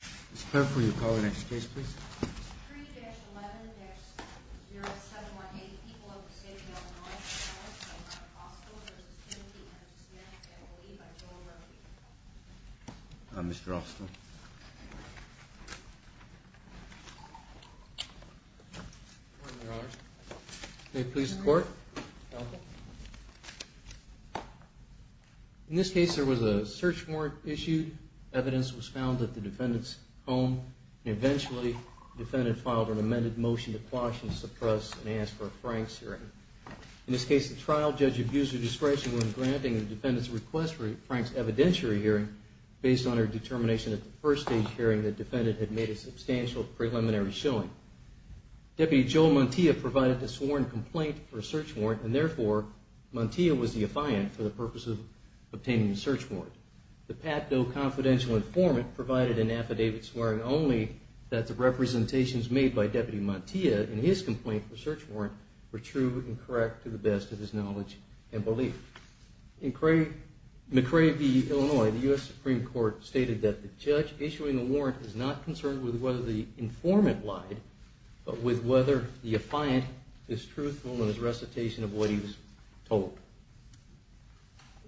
for you. Call the next case, please. Mr. Austin. They please support. In this case, there was a search warrant issued. Evidence was found that the defendant's home, and eventually the defendant filed an amended motion to quash and suppress and ask for Frank's hearing. In this case, the trial judge abused her discretion when granting the defendant's request for Frank's evidentiary hearing, based on her determination at the first stage hearing the defendant had made a substantial preliminary showing. Deputy Joel Mantia provided the sworn complaint for a search warrant, and therefore Mantia was the affiant for the purpose of obtaining the search warrant. The PATDOE confidential informant provided an affidavit swearing only that the representations made by Deputy Mantia in his complaint for search warrant were true and correct to the best of his knowledge and belief. In McCrae v. Illinois, the U.S. Supreme Court stated that the judge issuing the warrant is not concerned with whether the informant lied, but with whether the affiant is truthful in his recitation of what he was told.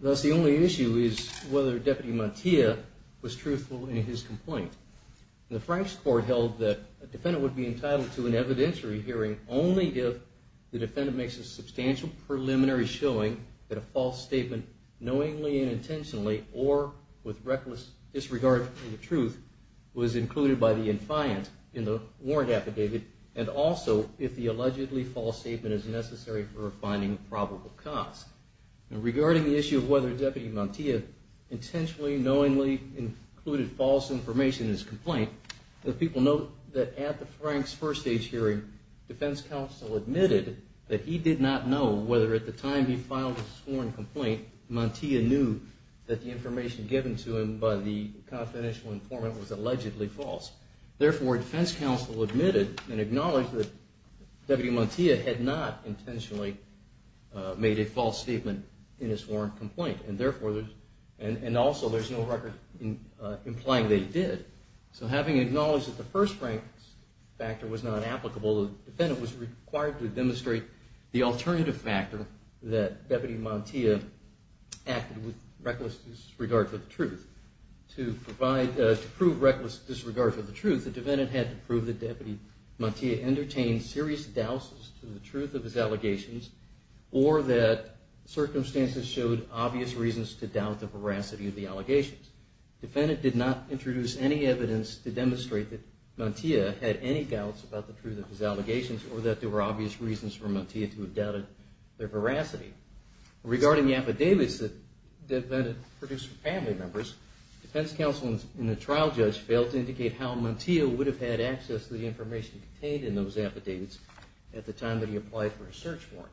Thus, the only issue is whether Deputy Mantia was truthful in his complaint. The Frank's court held that a defendant would be entitled to an evidentiary hearing only if the defendant makes a substantial preliminary showing that a false statement, knowingly and intentionally or with reckless disregard for the truth, was included by the affiant in the warrant affidavit, and also if the allegedly false statement is necessary for finding probable cause. Regarding the issue of whether Deputy Mantia intentionally, knowingly, included false information in his complaint, the people note that at the Frank's first stage hearing, defense counsel admitted that he did not know whether at the time he filed a sworn complaint, Mantia knew that the information given to him by the confidential informant was allegedly false. Therefore, defense counsel admitted and acknowledged that Deputy Mantia had not intentionally made a false statement in his warrant complaint, and also there's no record implying that he did. So having acknowledged that the first Frank's factor was not applicable, the defendant was required to demonstrate the alternative factor that Deputy Mantia acted with reckless disregard for the truth. To prove reckless disregard for the truth, the defendant had to prove that Deputy Mantia entertained serious doubts to the truth of his allegations, or that circumstances showed obvious reasons to doubt the veracity of the allegations. The defendant did not introduce any evidence to demonstrate that Mantia had any doubts about the truth of his allegations, or that there were obvious reasons for Mantia to have doubted their veracity. Regarding the affidavits that the defendant produced for family members, defense counsel in the trial judge failed to indicate how Mantia would have had access to the information contained in those affidavits at the time that he applied for a search warrant.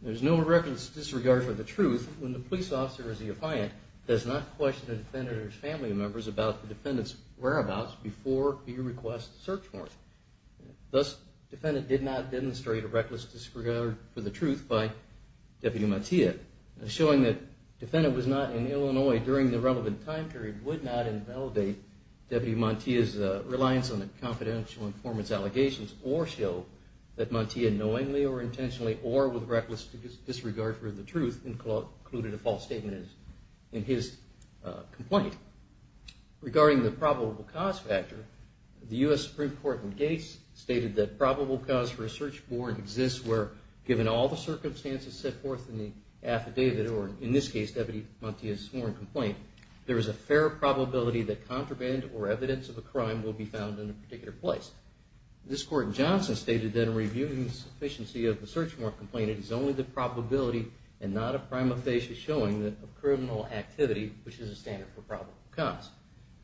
There's no reckless disregard for the truth when the police officer as the appliant does not question the defendant or his family members about the defendant's whereabouts before he requests a search warrant. Thus, the defendant did not demonstrate a reckless disregard for the truth by Deputy Mantia. Showing that the defendant was not in Illinois during the relevant time period would not invalidate Deputy Mantia's reliance on the confidential informants' allegations, or show that Mantia knowingly or intentionally or with reckless disregard for the truth included a false statement in his complaint. Regarding the probable cause factor, the U.S. Supreme Court in Gates stated that probable cause for a search warrant exists where, given all the circumstances set forth in the affidavit, or in this case, Deputy Mantia's sworn complaint, there is a fair probability that contraband or evidence of a crime will be found in a particular place. This court in Johnson stated that in reviewing the sufficiency of the search warrant complaint, it is only the probability and not a prima facie showing of criminal activity, which is a standard for probable cause.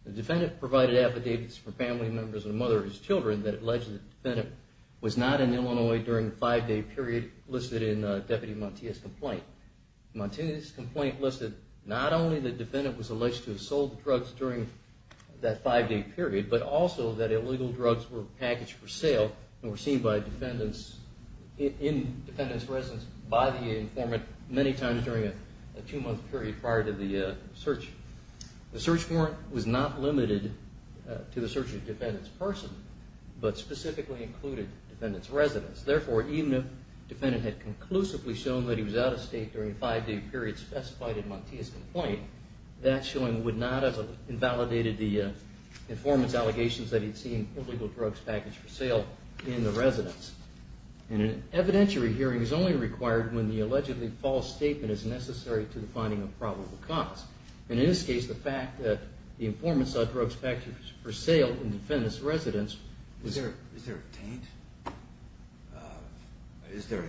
The defendant provided affidavits for family members and the mother of his children that alleged the defendant was not in Illinois during the five-day period listed in Deputy Mantia's complaint. Mantia's complaint listed not only that the defendant was alleged to have sold the drugs during that five-day period, but also that illegal drugs were packaged for sale and were seen by defendants, in defendants' residence, by the informant many times during a two-month period prior to the search. The search warrant was not limited to the search of the defendant's person, but specifically included defendants' residence. Therefore, even if it had conclusively shown that he was out of state during a five-day period specified in Mantia's complaint, that showing would not have invalidated the informant's allegations that he had seen illegal drugs packaged for sale in the residence. And an evidentiary hearing is only required when the allegedly false statement is necessary to the finding of probable cause. And in this case, the fact that the informant saw drugs packaged for sale in the defendant's residence... Is there a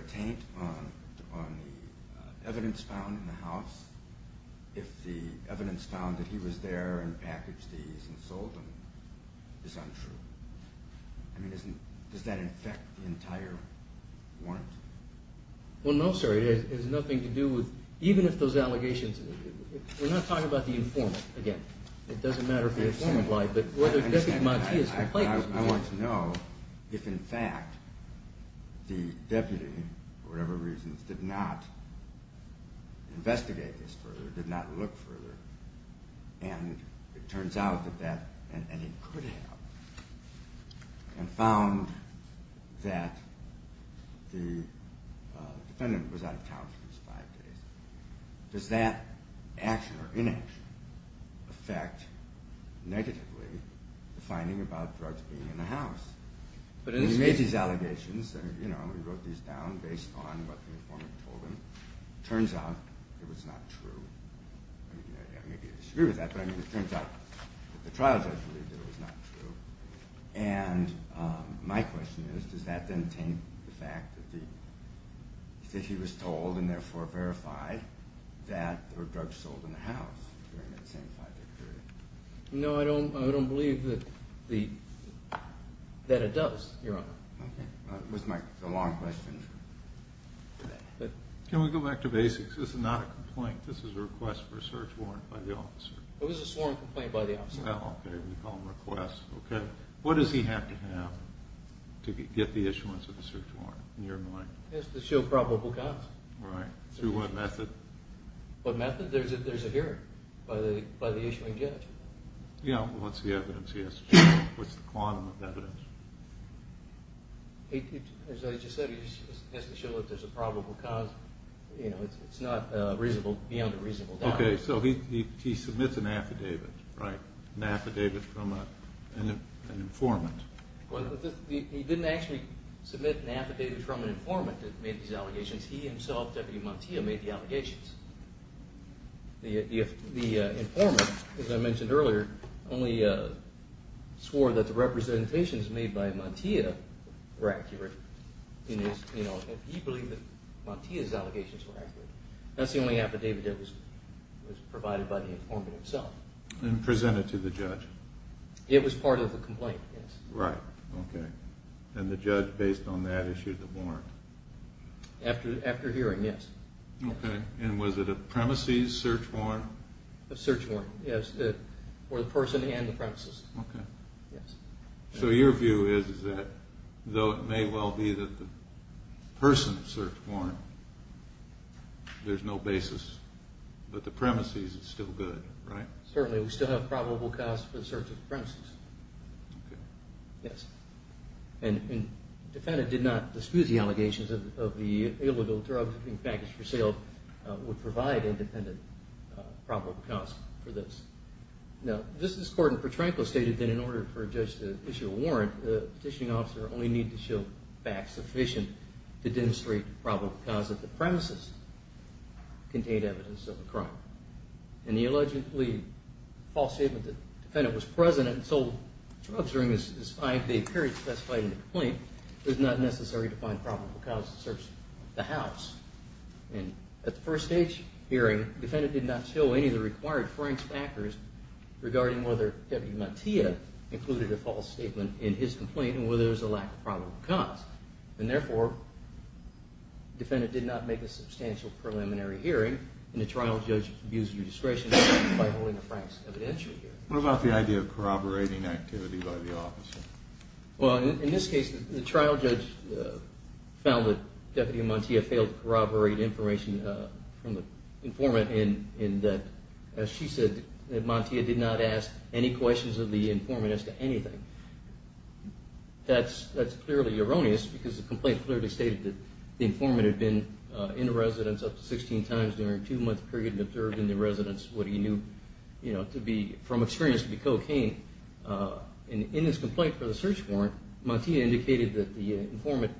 taint on the evidence found in the house if the evidence found that he was there and packaged these and sold them is untrue? I mean, does that affect the entire warrant? Well, no, sir. It has nothing to do with... Even if those allegations... We're not talking about the informant, again. It doesn't matter if he's a form of life. I understand. I want to know if, in fact, the deputy, for whatever reasons, did not investigate this further, did not look further, and it turns out that that... And he could have. And found that the defendant was out of town for those five days. Does that action or inaction affect, negatively, the investigation? It does affect, negatively, the finding about drugs being in the house. But in this case... We made these allegations, we wrote these down based on what the informant told him. It turns out it was not true. I mean, maybe you disagree with that, but it turns out that the trial judge believed that it was not true. And my question is, does that then taint the fact that he was told, and therefore verified, that there were drugs sold in the house during that same five day period? No, I don't believe that it does, Your Honor. Okay. That was my long question. Can we go back to basics? This is not a complaint. This is a request for a search warrant by the officer. It was a sworn complaint by the officer. Oh, okay. We call them requests. Okay. What does he have to have to get the issuance of a search warrant, in your mind? He has to show probable cause. Right. Through what method? There's a hearing by the issuing judge. Yeah. What's the evidence he has to show? What's the quantum of evidence? As I just said, he has to show that there's a probable cause. It's not beyond a reasonable doubt. Okay. So he submits an affidavit, right? An affidavit from an informant. He didn't actually submit an affidavit from an informant that made these allegations. He himself, Deputy Mantia, made the allegations. The informant, as I mentioned earlier, only swore that the representations made by Mantia were accurate. He believed that Mantia's allegations were accurate. That's the only affidavit that was provided by the informant himself. And presented to the judge. It was part of the complaint, yes. Right. Okay. And the judge, based on that, issued the warrant. After hearing, yes. Okay. And was it a premises search warrant? A search warrant, yes. For the person and the premises. Okay. Yes. So your view is that, though it may well be that the person searched warrant, there's no basis. But the premises is still good, right? Certainly, we still have probable cause for the search of the premises. Okay. Yes. And the defendant did not dispute the allegations of the illegal drugs being packaged for sale would provide independent probable cause for this. Now, Justice Gordon Petranco stated that in order for a judge to issue a warrant, the petitioning officer only needed to show facts sufficient to demonstrate the probable cause that the premises contained evidence of the crime. And the allegedly false statement that the defendant was present and sold drugs during this five-day period specified in the complaint was not necessary to find probable cause to search the house. And at the first stage hearing, the defendant did not show any of the required franks factors regarding whether Deputy Mantia included a false statement in his complaint and whether there was a lack of probable cause. And therefore, the defendant did not make a substantial preliminary hearing and the trial judge abused his discretion by holding the franks evidential here. What about the idea of corroborating activity by the officer? Well, in this case, the trial judge found that Deputy Mantia failed to corroborate information from the informant in that, as she said, that Mantia did not ask any questions of the informant as to anything. That's clearly erroneous because the complaint clearly stated that the informant had been in the residence up to 16 times during a two-month period and observed in the residence what he knew from experience to be cocaine. In his complaint for the search warrant, Mantia indicated that the informant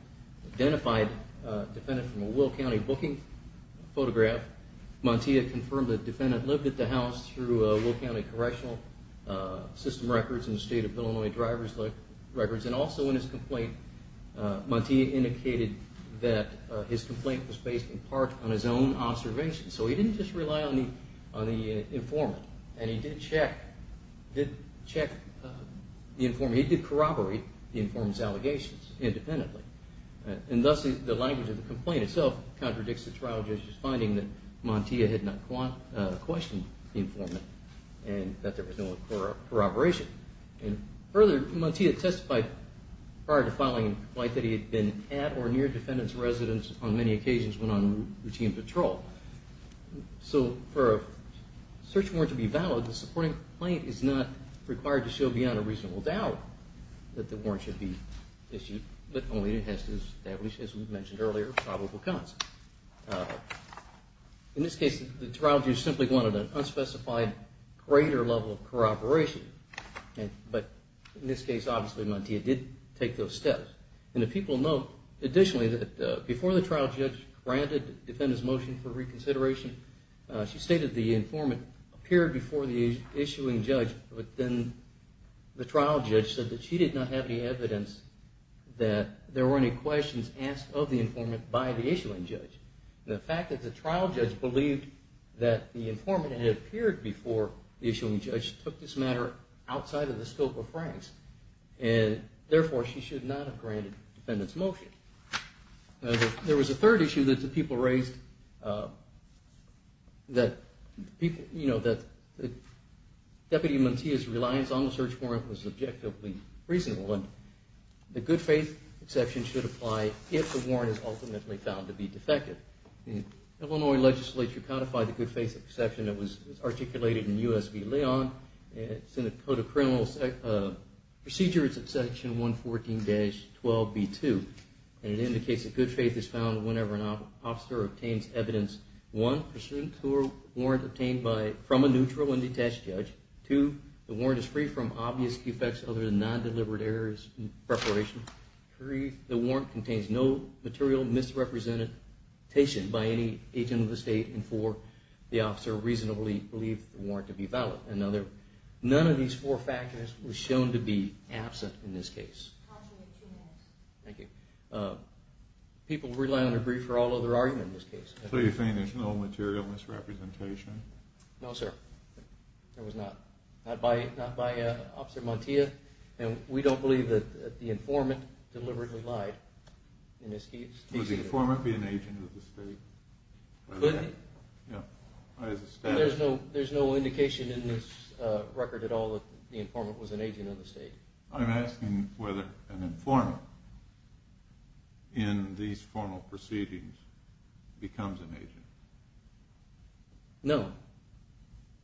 identified the defendant from a Will County booking photograph. Mantia confirmed that the defendant lived at the house through Will County Correctional System records and the state of Illinois driver's records. And also in his complaint, Mantia indicated that his complaint was based in part on his own observation. So he didn't just rely on the informant. And he did check the informant. He did corroborate the informant's allegations independently. And thus, the language of the complaint itself contradicts the trial judge's finding that Mantia had not questioned the informant and that there was no corroboration. And further, Mantia testified prior to filing the complaint that he had been at or near the defendant's residence on many occasions when on routine patrol. So for a search warrant to be valid, the supporting complaint is not required to show beyond a reasonable doubt that the warrant should be issued, but only it has to establish, as we mentioned earlier, probable cause. In this case, the trial judge simply wanted an unspecified greater level of corroboration. But in this case, obviously, Mantia did take those steps. And the people note, additionally, that before the trial judge granted the defendant's motion for reconsideration, she stated the informant appeared before the issuing judge. But then the trial judge said that she did not have any evidence that there were any questions asked of the informant by the issuing judge. And the fact that the trial judge believed that the informant had appeared before the issuing judge took this matter outside of the scope of Frank's, and therefore, she should not have granted the defendant's motion. There was a third issue that the people raised that Deputy Mantia's reliance on the search warrant was objectively reasonable. The good faith exception should apply if the warrant is ultimately found to be defective. The Illinois legislature codified the good faith exception that was articulated in U.S. v. Leon. It's in the Code of Criminal Procedures at section 114-12b-2. And it indicates that good faith is found whenever an officer obtains evidence, one, pursuant to a warrant obtained from a neutral and detached judge. Two, the warrant is free from obvious defects other than non-delivered errors in preparation. Three, the warrant contains no material misrepresentation by any agent of the state. And four, the officer reasonably believed the warrant to be valid. None of these four factors were shown to be absent in this case. Thank you. People rely on the brief for all other arguments in this case. So you're saying there's no material misrepresentation? No, sir. There was not. Not by Officer Mantia. And we don't believe that the informant deliberately lied in this case. Would the informant be an agent of the state? Could he? Yeah. There's no indication in this record at all that the informant was an agent of the state. I'm asking whether an informant in these formal proceedings becomes an agent. No.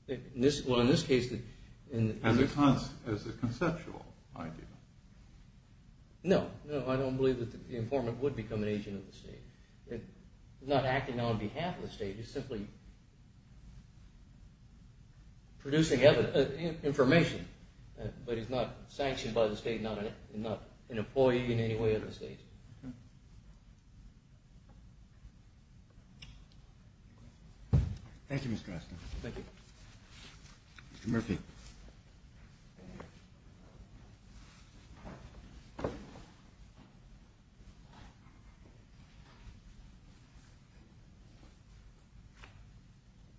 Well, in this case. As a conceptual idea. No. No, I don't believe that the informant would become an agent of the state. Not acting on behalf of the state. He's simply producing information. But he's not sanctioned by the state and not an employee in any way of the state. Okay. Thank you, Mr. Osco. Thank you. Mr. Murphy.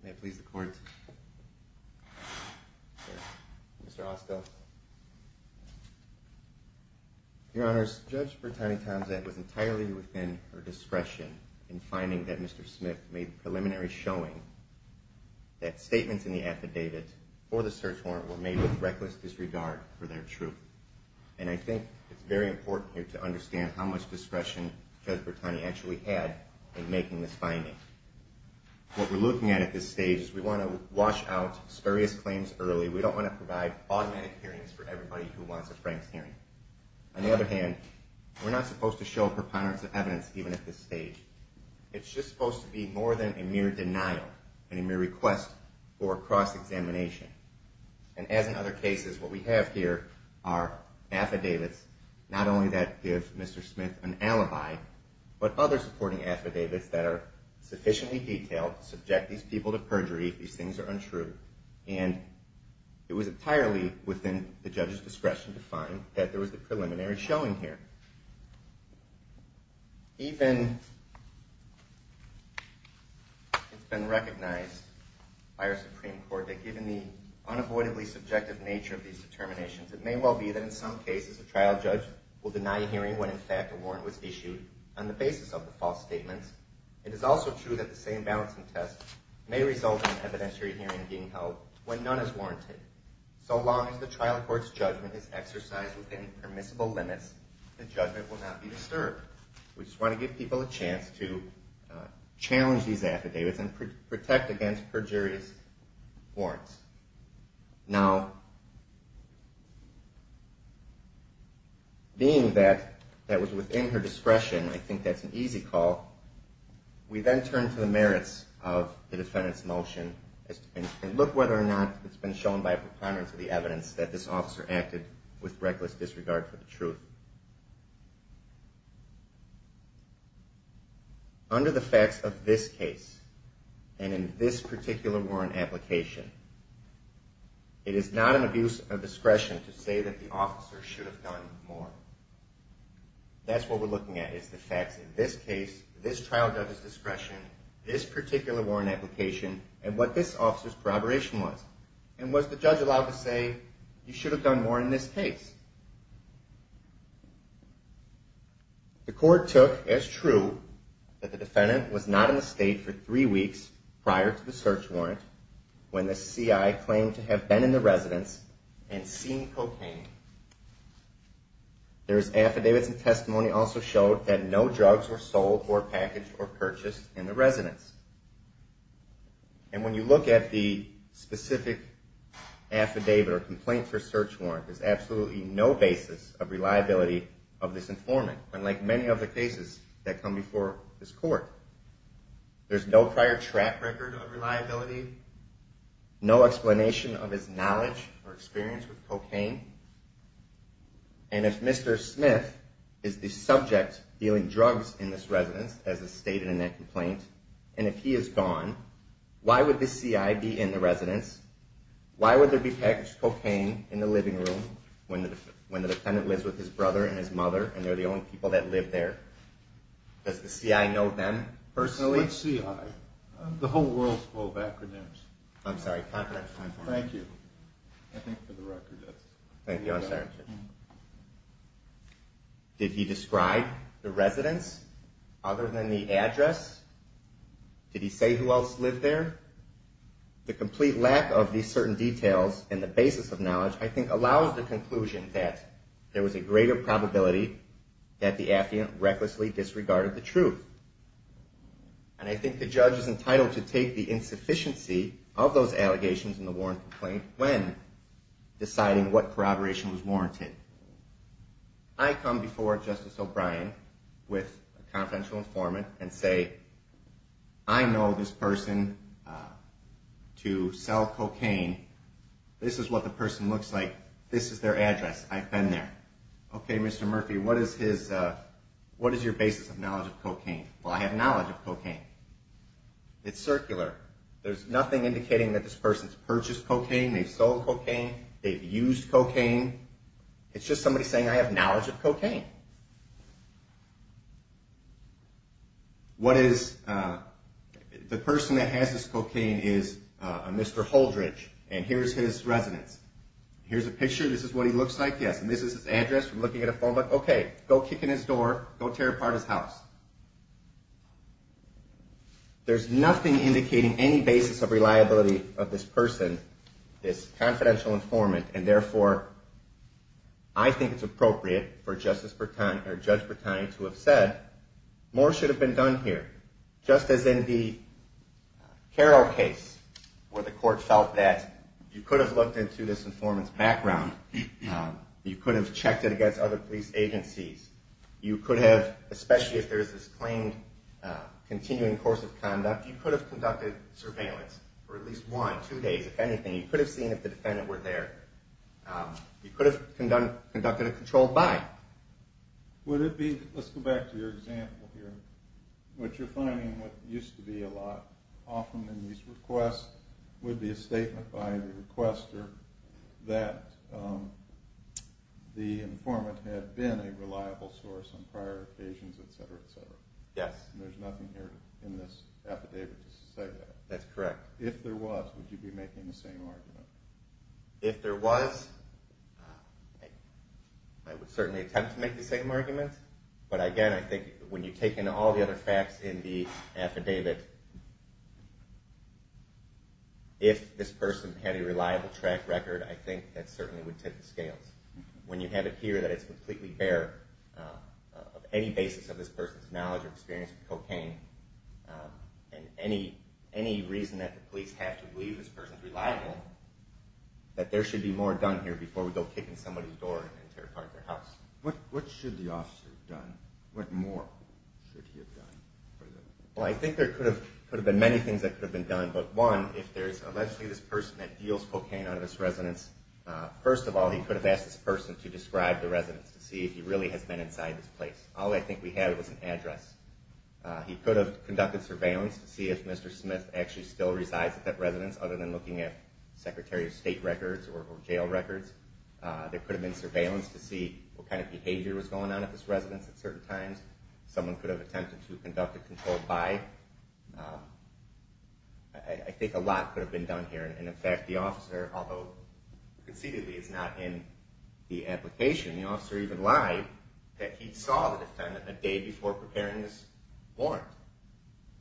May it please the court. Mr. Osco. Your Honors, Judge Bertani-Tonzett was entirely within her discretion in finding that Mr. Smith made preliminary showing that statements in the affidavit or the search warrant were made with reckless disregard for their truth. And I think it's very important here to understand how much discretion Judge Bertani actually had in making this finding. What we're looking at at this stage is we want to wash out spurious claims early. We don't want to provide automatic hearings for everybody who wants a Frank's hearing. On the other hand, we're not supposed to show preponderance of evidence even at this stage. It's just supposed to be more than a mere denial and a mere request for cross-examination. And as in other cases, what we have here are affidavits, not only that give Mr. Smith an alibi, but other supporting affidavits that are sufficiently detailed to subject these people to perjury if these things are untrue. And it was entirely within the judge's discretion to find that there was the preliminary showing here. Even it's been recognized by our Supreme Court that given the unavoidably subjective nature of these determinations, it may well be that in some cases a trial judge will deny a hearing when, in fact, a warrant was issued on the basis of the false statements. It is also true that the same balancing test may result in an evidentiary hearing being held when none is warranted. So long as the trial court's judgment is exercised within permissible limits, the judgment will not be disturbed. We just want to give people a chance to challenge these affidavits and protect against perjurious warrants. Now, being that that was within her discretion, I think that's an easy call, we then turn to the merits of the defendant's motion and look whether or not it's been shown by a preponderance of the evidence that this officer acted with reckless disregard for the truth. Under the facts of this case and in this particular warrant application, it is not an abuse of discretion to say that the officer should have done more. That's what we're looking at, is the facts in this case, this trial judge's discretion, this particular warrant application, and what this officer's corroboration was. And was the judge allowed to say, you should have done more in this case? The court took as true that the defendant was not in the state for three weeks prior to the search warrant when the CI claimed to have been in the residence and seen cocaine. There's affidavits and testimony also showed that no drugs were sold or packaged or purchased in the residence. And when you look at the specific affidavit or complaint for search warrant, there's absolutely no basis of reliability of this informant, unlike many other cases that come before this court. There's no prior track record of reliability, no explanation of his knowledge or experience with cocaine. And if Mr. Smith is the subject dealing drugs in this residence, as is stated in that complaint, and if he is gone, why would the CI be in the residence? Why would there be packaged cocaine in the living room when the defendant lives with his brother and his mother and they're the only people that live there? Does the CI know them personally? Which CI? The whole world's full of acronyms. I'm sorry. Thank you. Did he describe the residence other than the address? Did he say who else lived there? The complete lack of these certain details and the basis of knowledge, I think, allows the conclusion that there was a greater probability that the affidavit recklessly disregarded the truth. And I think the judge is entitled to take the insufficiency of those allegations in the warrant complaint when deciding what corroboration was warranted. I come before Justice O'Brien with a confidential informant and say, I know this person to sell cocaine. This is what the person looks like. This is their address. I've been there. Okay, Mr. Murphy, what is your basis of knowledge of cocaine? Well, I have knowledge of cocaine. It's circular. There's nothing indicating that this person's purchased cocaine, they've sold cocaine, they've used cocaine. It's just somebody saying I have knowledge of cocaine. What is the person that has this cocaine is a Mr. Holdridge, and here's his residence. Here's a picture. This is what he looks like. Yes, and this is his address from looking at a phone book. Okay, go kick in his door. Go tear apart his house. There's nothing indicating any basis of reliability of this person, this confidential informant, and, therefore, I think it's appropriate for Judge Bertani to have said, more should have been done here. Just as in the Carroll case where the court felt that you could have looked into this informant's background. You could have checked it against other police agencies. You could have, especially if there's this claimed continuing course of conduct, you could have conducted surveillance for at least one, two days, if anything. You could have seen if the defendant were there. You could have conducted a controlled buy. Would it be, let's go back to your example here, what you're finding what used to be a lot, often in these requests, would be a statement by the requester that the informant had been a reliable source on prior occasions, et cetera, et cetera. Yes. And there's nothing here in this affidavit to say that. That's correct. If there was, would you be making the same argument? If there was, I would certainly attempt to make the same argument. But again, I think when you take in all the other facts in the affidavit, if this person had a reliable track record, I think that certainly would tip the scales. When you have it here that it's completely bare of any basis of this person's knowledge or experience with cocaine and any reason that the police have to believe this person's reliable, that there should be more done here before we go kick in somebody's door and tear apart their house. What should the officer have done? What more should he have done? Well, I think there could have been many things that could have been done. But one, if there's allegedly this person that deals cocaine on this residence, first of all, he could have asked this person to describe the residence to see if he really has been inside this place. All I think we had was an address. He could have conducted surveillance to see if Mr. Smith actually still resides at that residence, other than looking at Secretary of State records or jail records. There could have been surveillance to see what kind of behavior was going on at this residence at certain times. Someone could have attempted to conduct a controlled buy. I think a lot could have been done here. And, in fact, the officer, although conceitedly is not in the application, the officer even lied that he saw the defendant a day before preparing this warrant.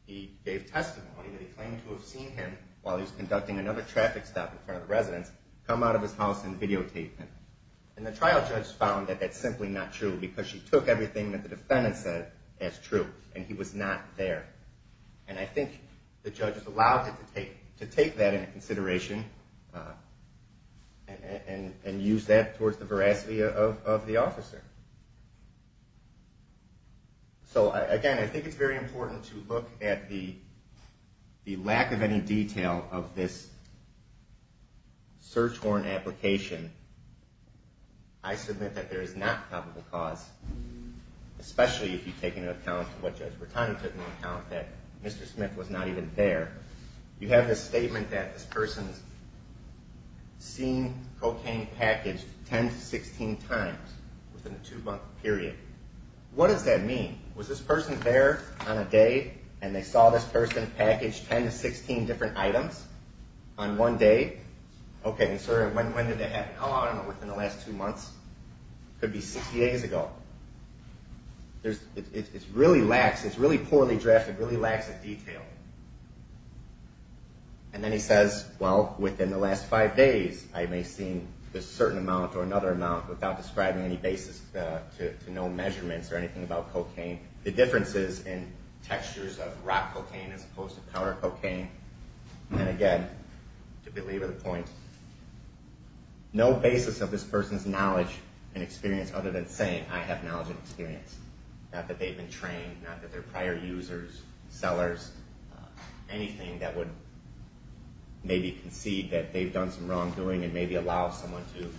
He gave testimony that he claimed to have seen him, while he was conducting another traffic stop in front of the residence, come out of his house and videotape him. And the trial judge found that that's simply not true, because she took everything that the defendant said as true, and he was not there. And I think the judges allowed him to take that into consideration and use that towards the veracity of the officer. So, again, I think it's very important to look at the lack of any detail of this search warrant application. I submit that there is not probable cause, especially if you take into account what Judge Bertani took into account, that Mr. Smith was not even there. You have this statement that this person's seen cocaine packaged 10 to 16 times within a two-month period. What does that mean? Was this person there on a day, and they saw this person package 10 to 16 different items on one day? Okay, and so when did that happen? How long in the last two months? Could be 60 days ago. It's really poorly drafted, really lacks of detail. And then he says, well, within the last five days, I may have seen a certain amount or another amount without describing any basis to no measurements or anything about cocaine. The difference is in textures of rock cocaine as opposed to powder cocaine. And, again, to believe the point, no basis of this person's knowledge and experience other than saying, I have knowledge and experience. Not that they've been trained, not that they're prior users, sellers, anything that would maybe concede that they've done some wrongdoing and maybe allow someone to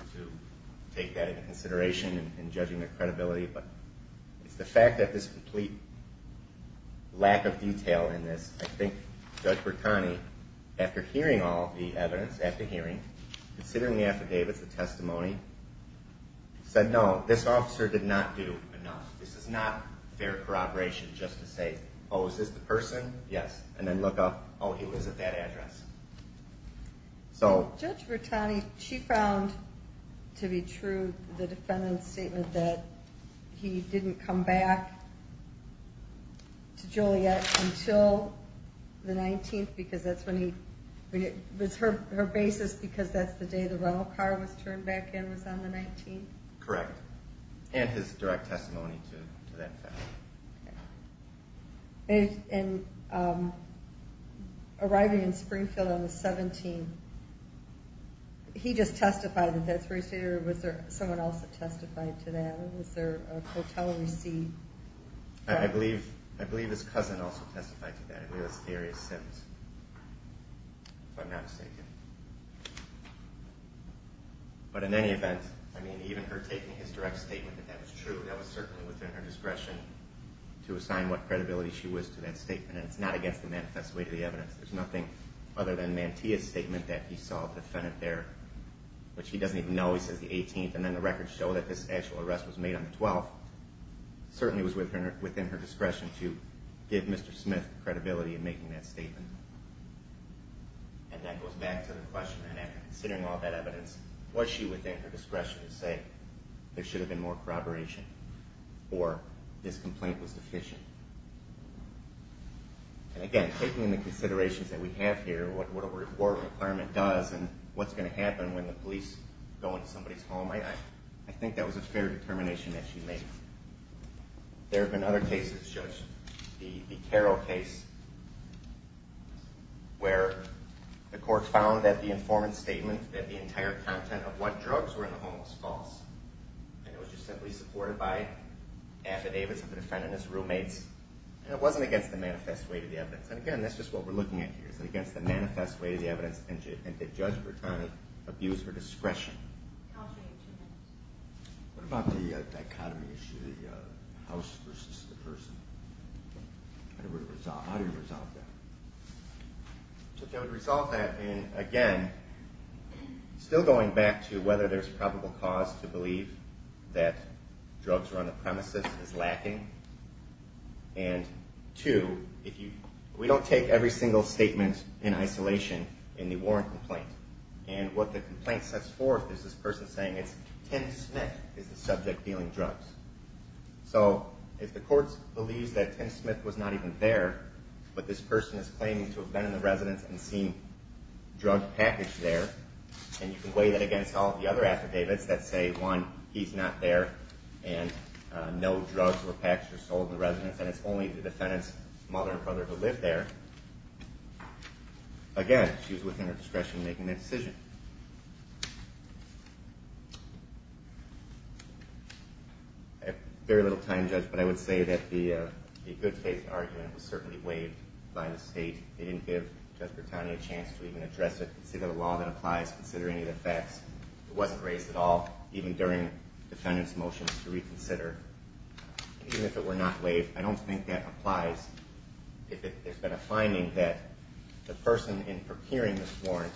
take that into consideration in judging their credibility. But it's the fact that this complete lack of detail in this, I think Judge Bertani, after hearing all the evidence, after hearing, considering the affidavits, the testimony, said, no, this officer did not do enough. This is not fair corroboration just to say, oh, is this the person? Yes. And then look up, oh, he was at that address. Judge Bertani, she found to be true the defendant's statement that he didn't come back to Juliet until the 19th because that's when he, it was her basis because that's the day the rental car was turned back in was on the 19th? Correct. And his direct testimony to that fact. And arriving in Springfield on the 17th, he just testified that that's where he stayed or was there someone else that testified to that? Was there a hotel receipt? I believe his cousin also testified to that. I believe it was Area Sims, if I'm not mistaken. But in any event, I mean, even her taking his direct statement that that was true, that was certainly within her discretion to assign what credibility she was to that statement. And it's not against the manifest way to the evidence. There's nothing other than Mantia's statement that he saw the defendant there, which he doesn't even know. He says the 18th, and then the records show that this actual arrest was made on the 12th. Certainly it was within her discretion to give Mr. Smith credibility in making that statement. And that goes back to the question, and after considering all that evidence, was she within her discretion to say there should have been more corroboration or this complaint was deficient? And again, taking the considerations that we have here, what a report requirement does and what's going to happen when the police go into somebody's home, I think that was a fair determination that she made. There have been other cases, Judge. that the entire content of what drugs were in the home was false. And it was just simply supported by affidavits of the defendant and his roommates. And it wasn't against the manifest way to the evidence. And again, that's just what we're looking at here. Is it against the manifest way to the evidence, and did Judge Bertone abuse her discretion? I'll show you in two minutes. What about the dichotomy issue, the house versus the person? How do you resolve that? Judge, I would resolve that in, again, still going back to whether there's probable cause to believe that drugs were on the premises is lacking. And two, we don't take every single statement in isolation in the Warren complaint. And what the complaint sets forth is this person saying it's Tim Smith is the subject dealing drugs. So if the court believes that Tim Smith was not even there, but this person is claiming to have been in the residence and seen drug package there, and you can weigh that against all of the other affidavits that say, one, he's not there, and no drugs or packs were sold in the residence, and it's only the defendant's mother or brother who lived there, again, she was within her discretion in making that decision. I have very little time, Judge, but I would say that the good faith argument was certainly waived by the State. They didn't give Judge Bertone a chance to even address it, consider the law that applies, consider any of the facts. It wasn't raised at all, even during the defendant's motions to reconsider. Even if it were not waived, I don't think that applies if there's been a finding that the person in procuring this warrant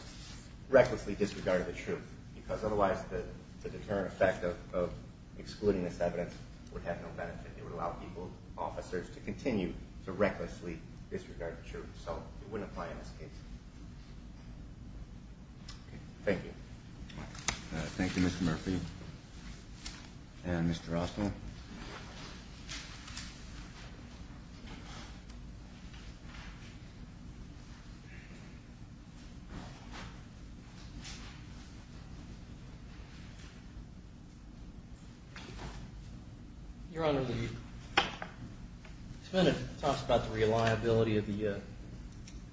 recklessly disregarded the truth because otherwise the deterrent effect of excluding this evidence would have no benefit. It would allow people, officers, to continue to recklessly disregard the truth. So it wouldn't apply in this case. Thank you. Thank you, Mr. Murphy. And Mr. Rossmoor. Your Honor, the defendant talks about the reliability of the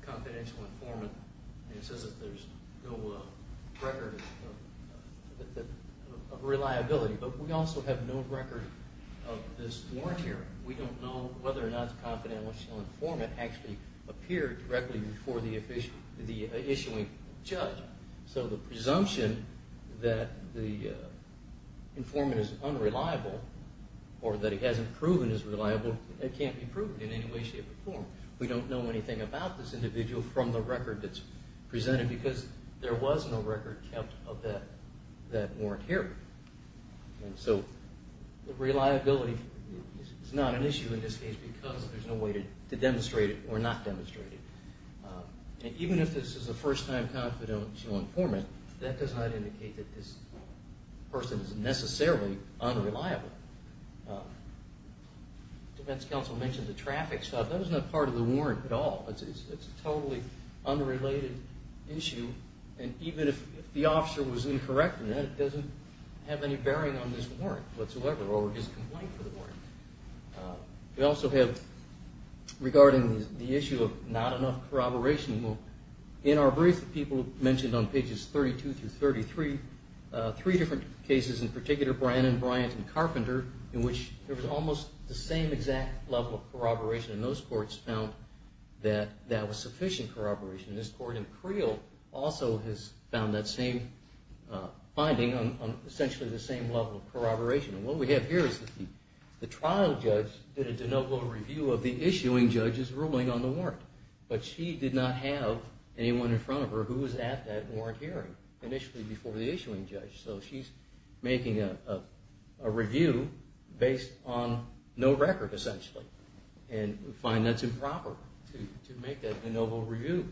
confidential informant. He says that there's no record of reliability, but we also have no record of this warrant here. We don't know whether or not the confidential informant actually appeared directly before the issuing judge. So the presumption that the informant is unreliable or that he hasn't proven he's reliable, it can't be proven in any way, shape, or form. We don't know anything about this individual from the record that's presented because there was no record kept of that warrant here. And so the reliability is not an issue in this case because there's no way to demonstrate it or not demonstrate it. And even if this is a first-time confidential informant, that does not indicate that this person is necessarily unreliable. The defense counsel mentioned the traffic stop. That is not part of the warrant at all. It's a totally unrelated issue. And even if the officer was incorrect in that, it doesn't have any bearing on this warrant whatsoever or his complaint for the warrant. We also have, regarding the issue of not enough corroboration, in our brief the people mentioned on pages 32 through 33, three different cases in particular, Brannon, Bryant, and Carpenter, in which there was almost the same exact level of corroboration. And those courts found that that was sufficient corroboration. This court in Creel also has found that same finding on essentially the same level of corroboration. And what we have here is the trial judge did a de novo review of the issuing judge's ruling on the warrant. But she did not have anyone in front of her who was at that warrant hearing initially before the issuing judge. So she's making a review based on no record, essentially. And we find that's improper to make a de novo review.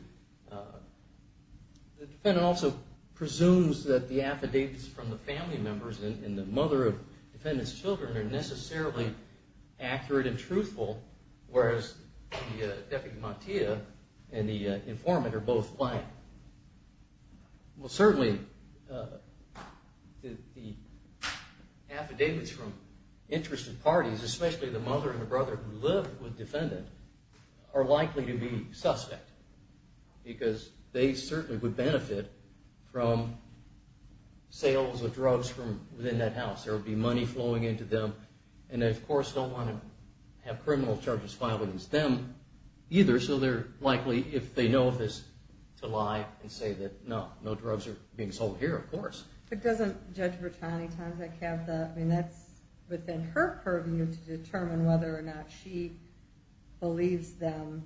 The defendant also presumes that the affidavits from the family members and the mother of the defendant's children are necessarily accurate and truthful, whereas the defendant, Montia, and the informant are both blank. Certainly, the affidavits from interested parties, especially the mother and the brother who lived with the defendant, are likely to be suspect because they certainly would benefit from sales of drugs from within that house. There would be money flowing into them. And they, of course, don't want to have criminal charges filed against them either. So they're likely, if they know of this, to lie and say that, no, no drugs are being sold here, of course. But doesn't Judge Bertani have that? I mean, that's within her purview to determine whether or not she believes them,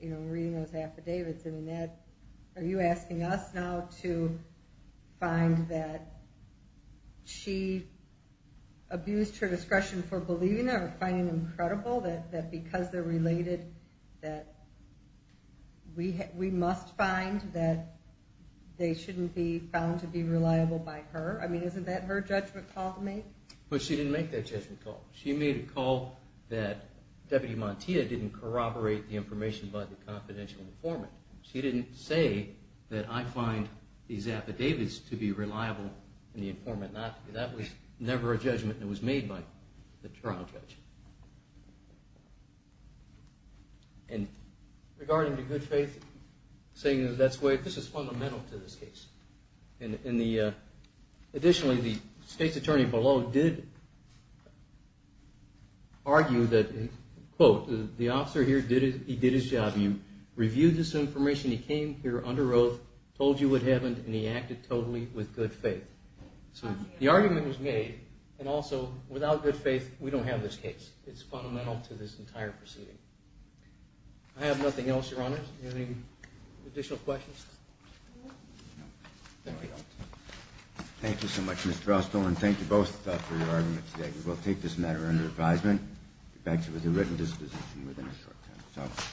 you know, reading those affidavits. Are you asking us now to find that she abused her discretion for believing them or finding them credible, that because they're related, that we must find that they shouldn't be found to be reliable by her? I mean, isn't that her judgment call to make? But she didn't make that judgment call. She made a call that Deputy Montia didn't corroborate the information by the confidential informant. She didn't say that I find these affidavits to be reliable and the informant not. That was never a judgment that was made by the trial judge. And regarding the good faith, this is fundamental to this case. Additionally, the state's attorney below did argue that, quote, the officer here, he did his job. He reviewed this information. He came here under oath, told you what happened, and he acted totally with good faith. So the argument was made. And also, without good faith, we don't have this case. It's fundamental to this entire proceeding. I have nothing else, Your Honor. Do you have any additional questions? No. No, we don't. Thank you so much, Mr. Austell. And thank you both for your arguments today. We will take this matter under advisement. We'll get back to you with a written disposition within a short time.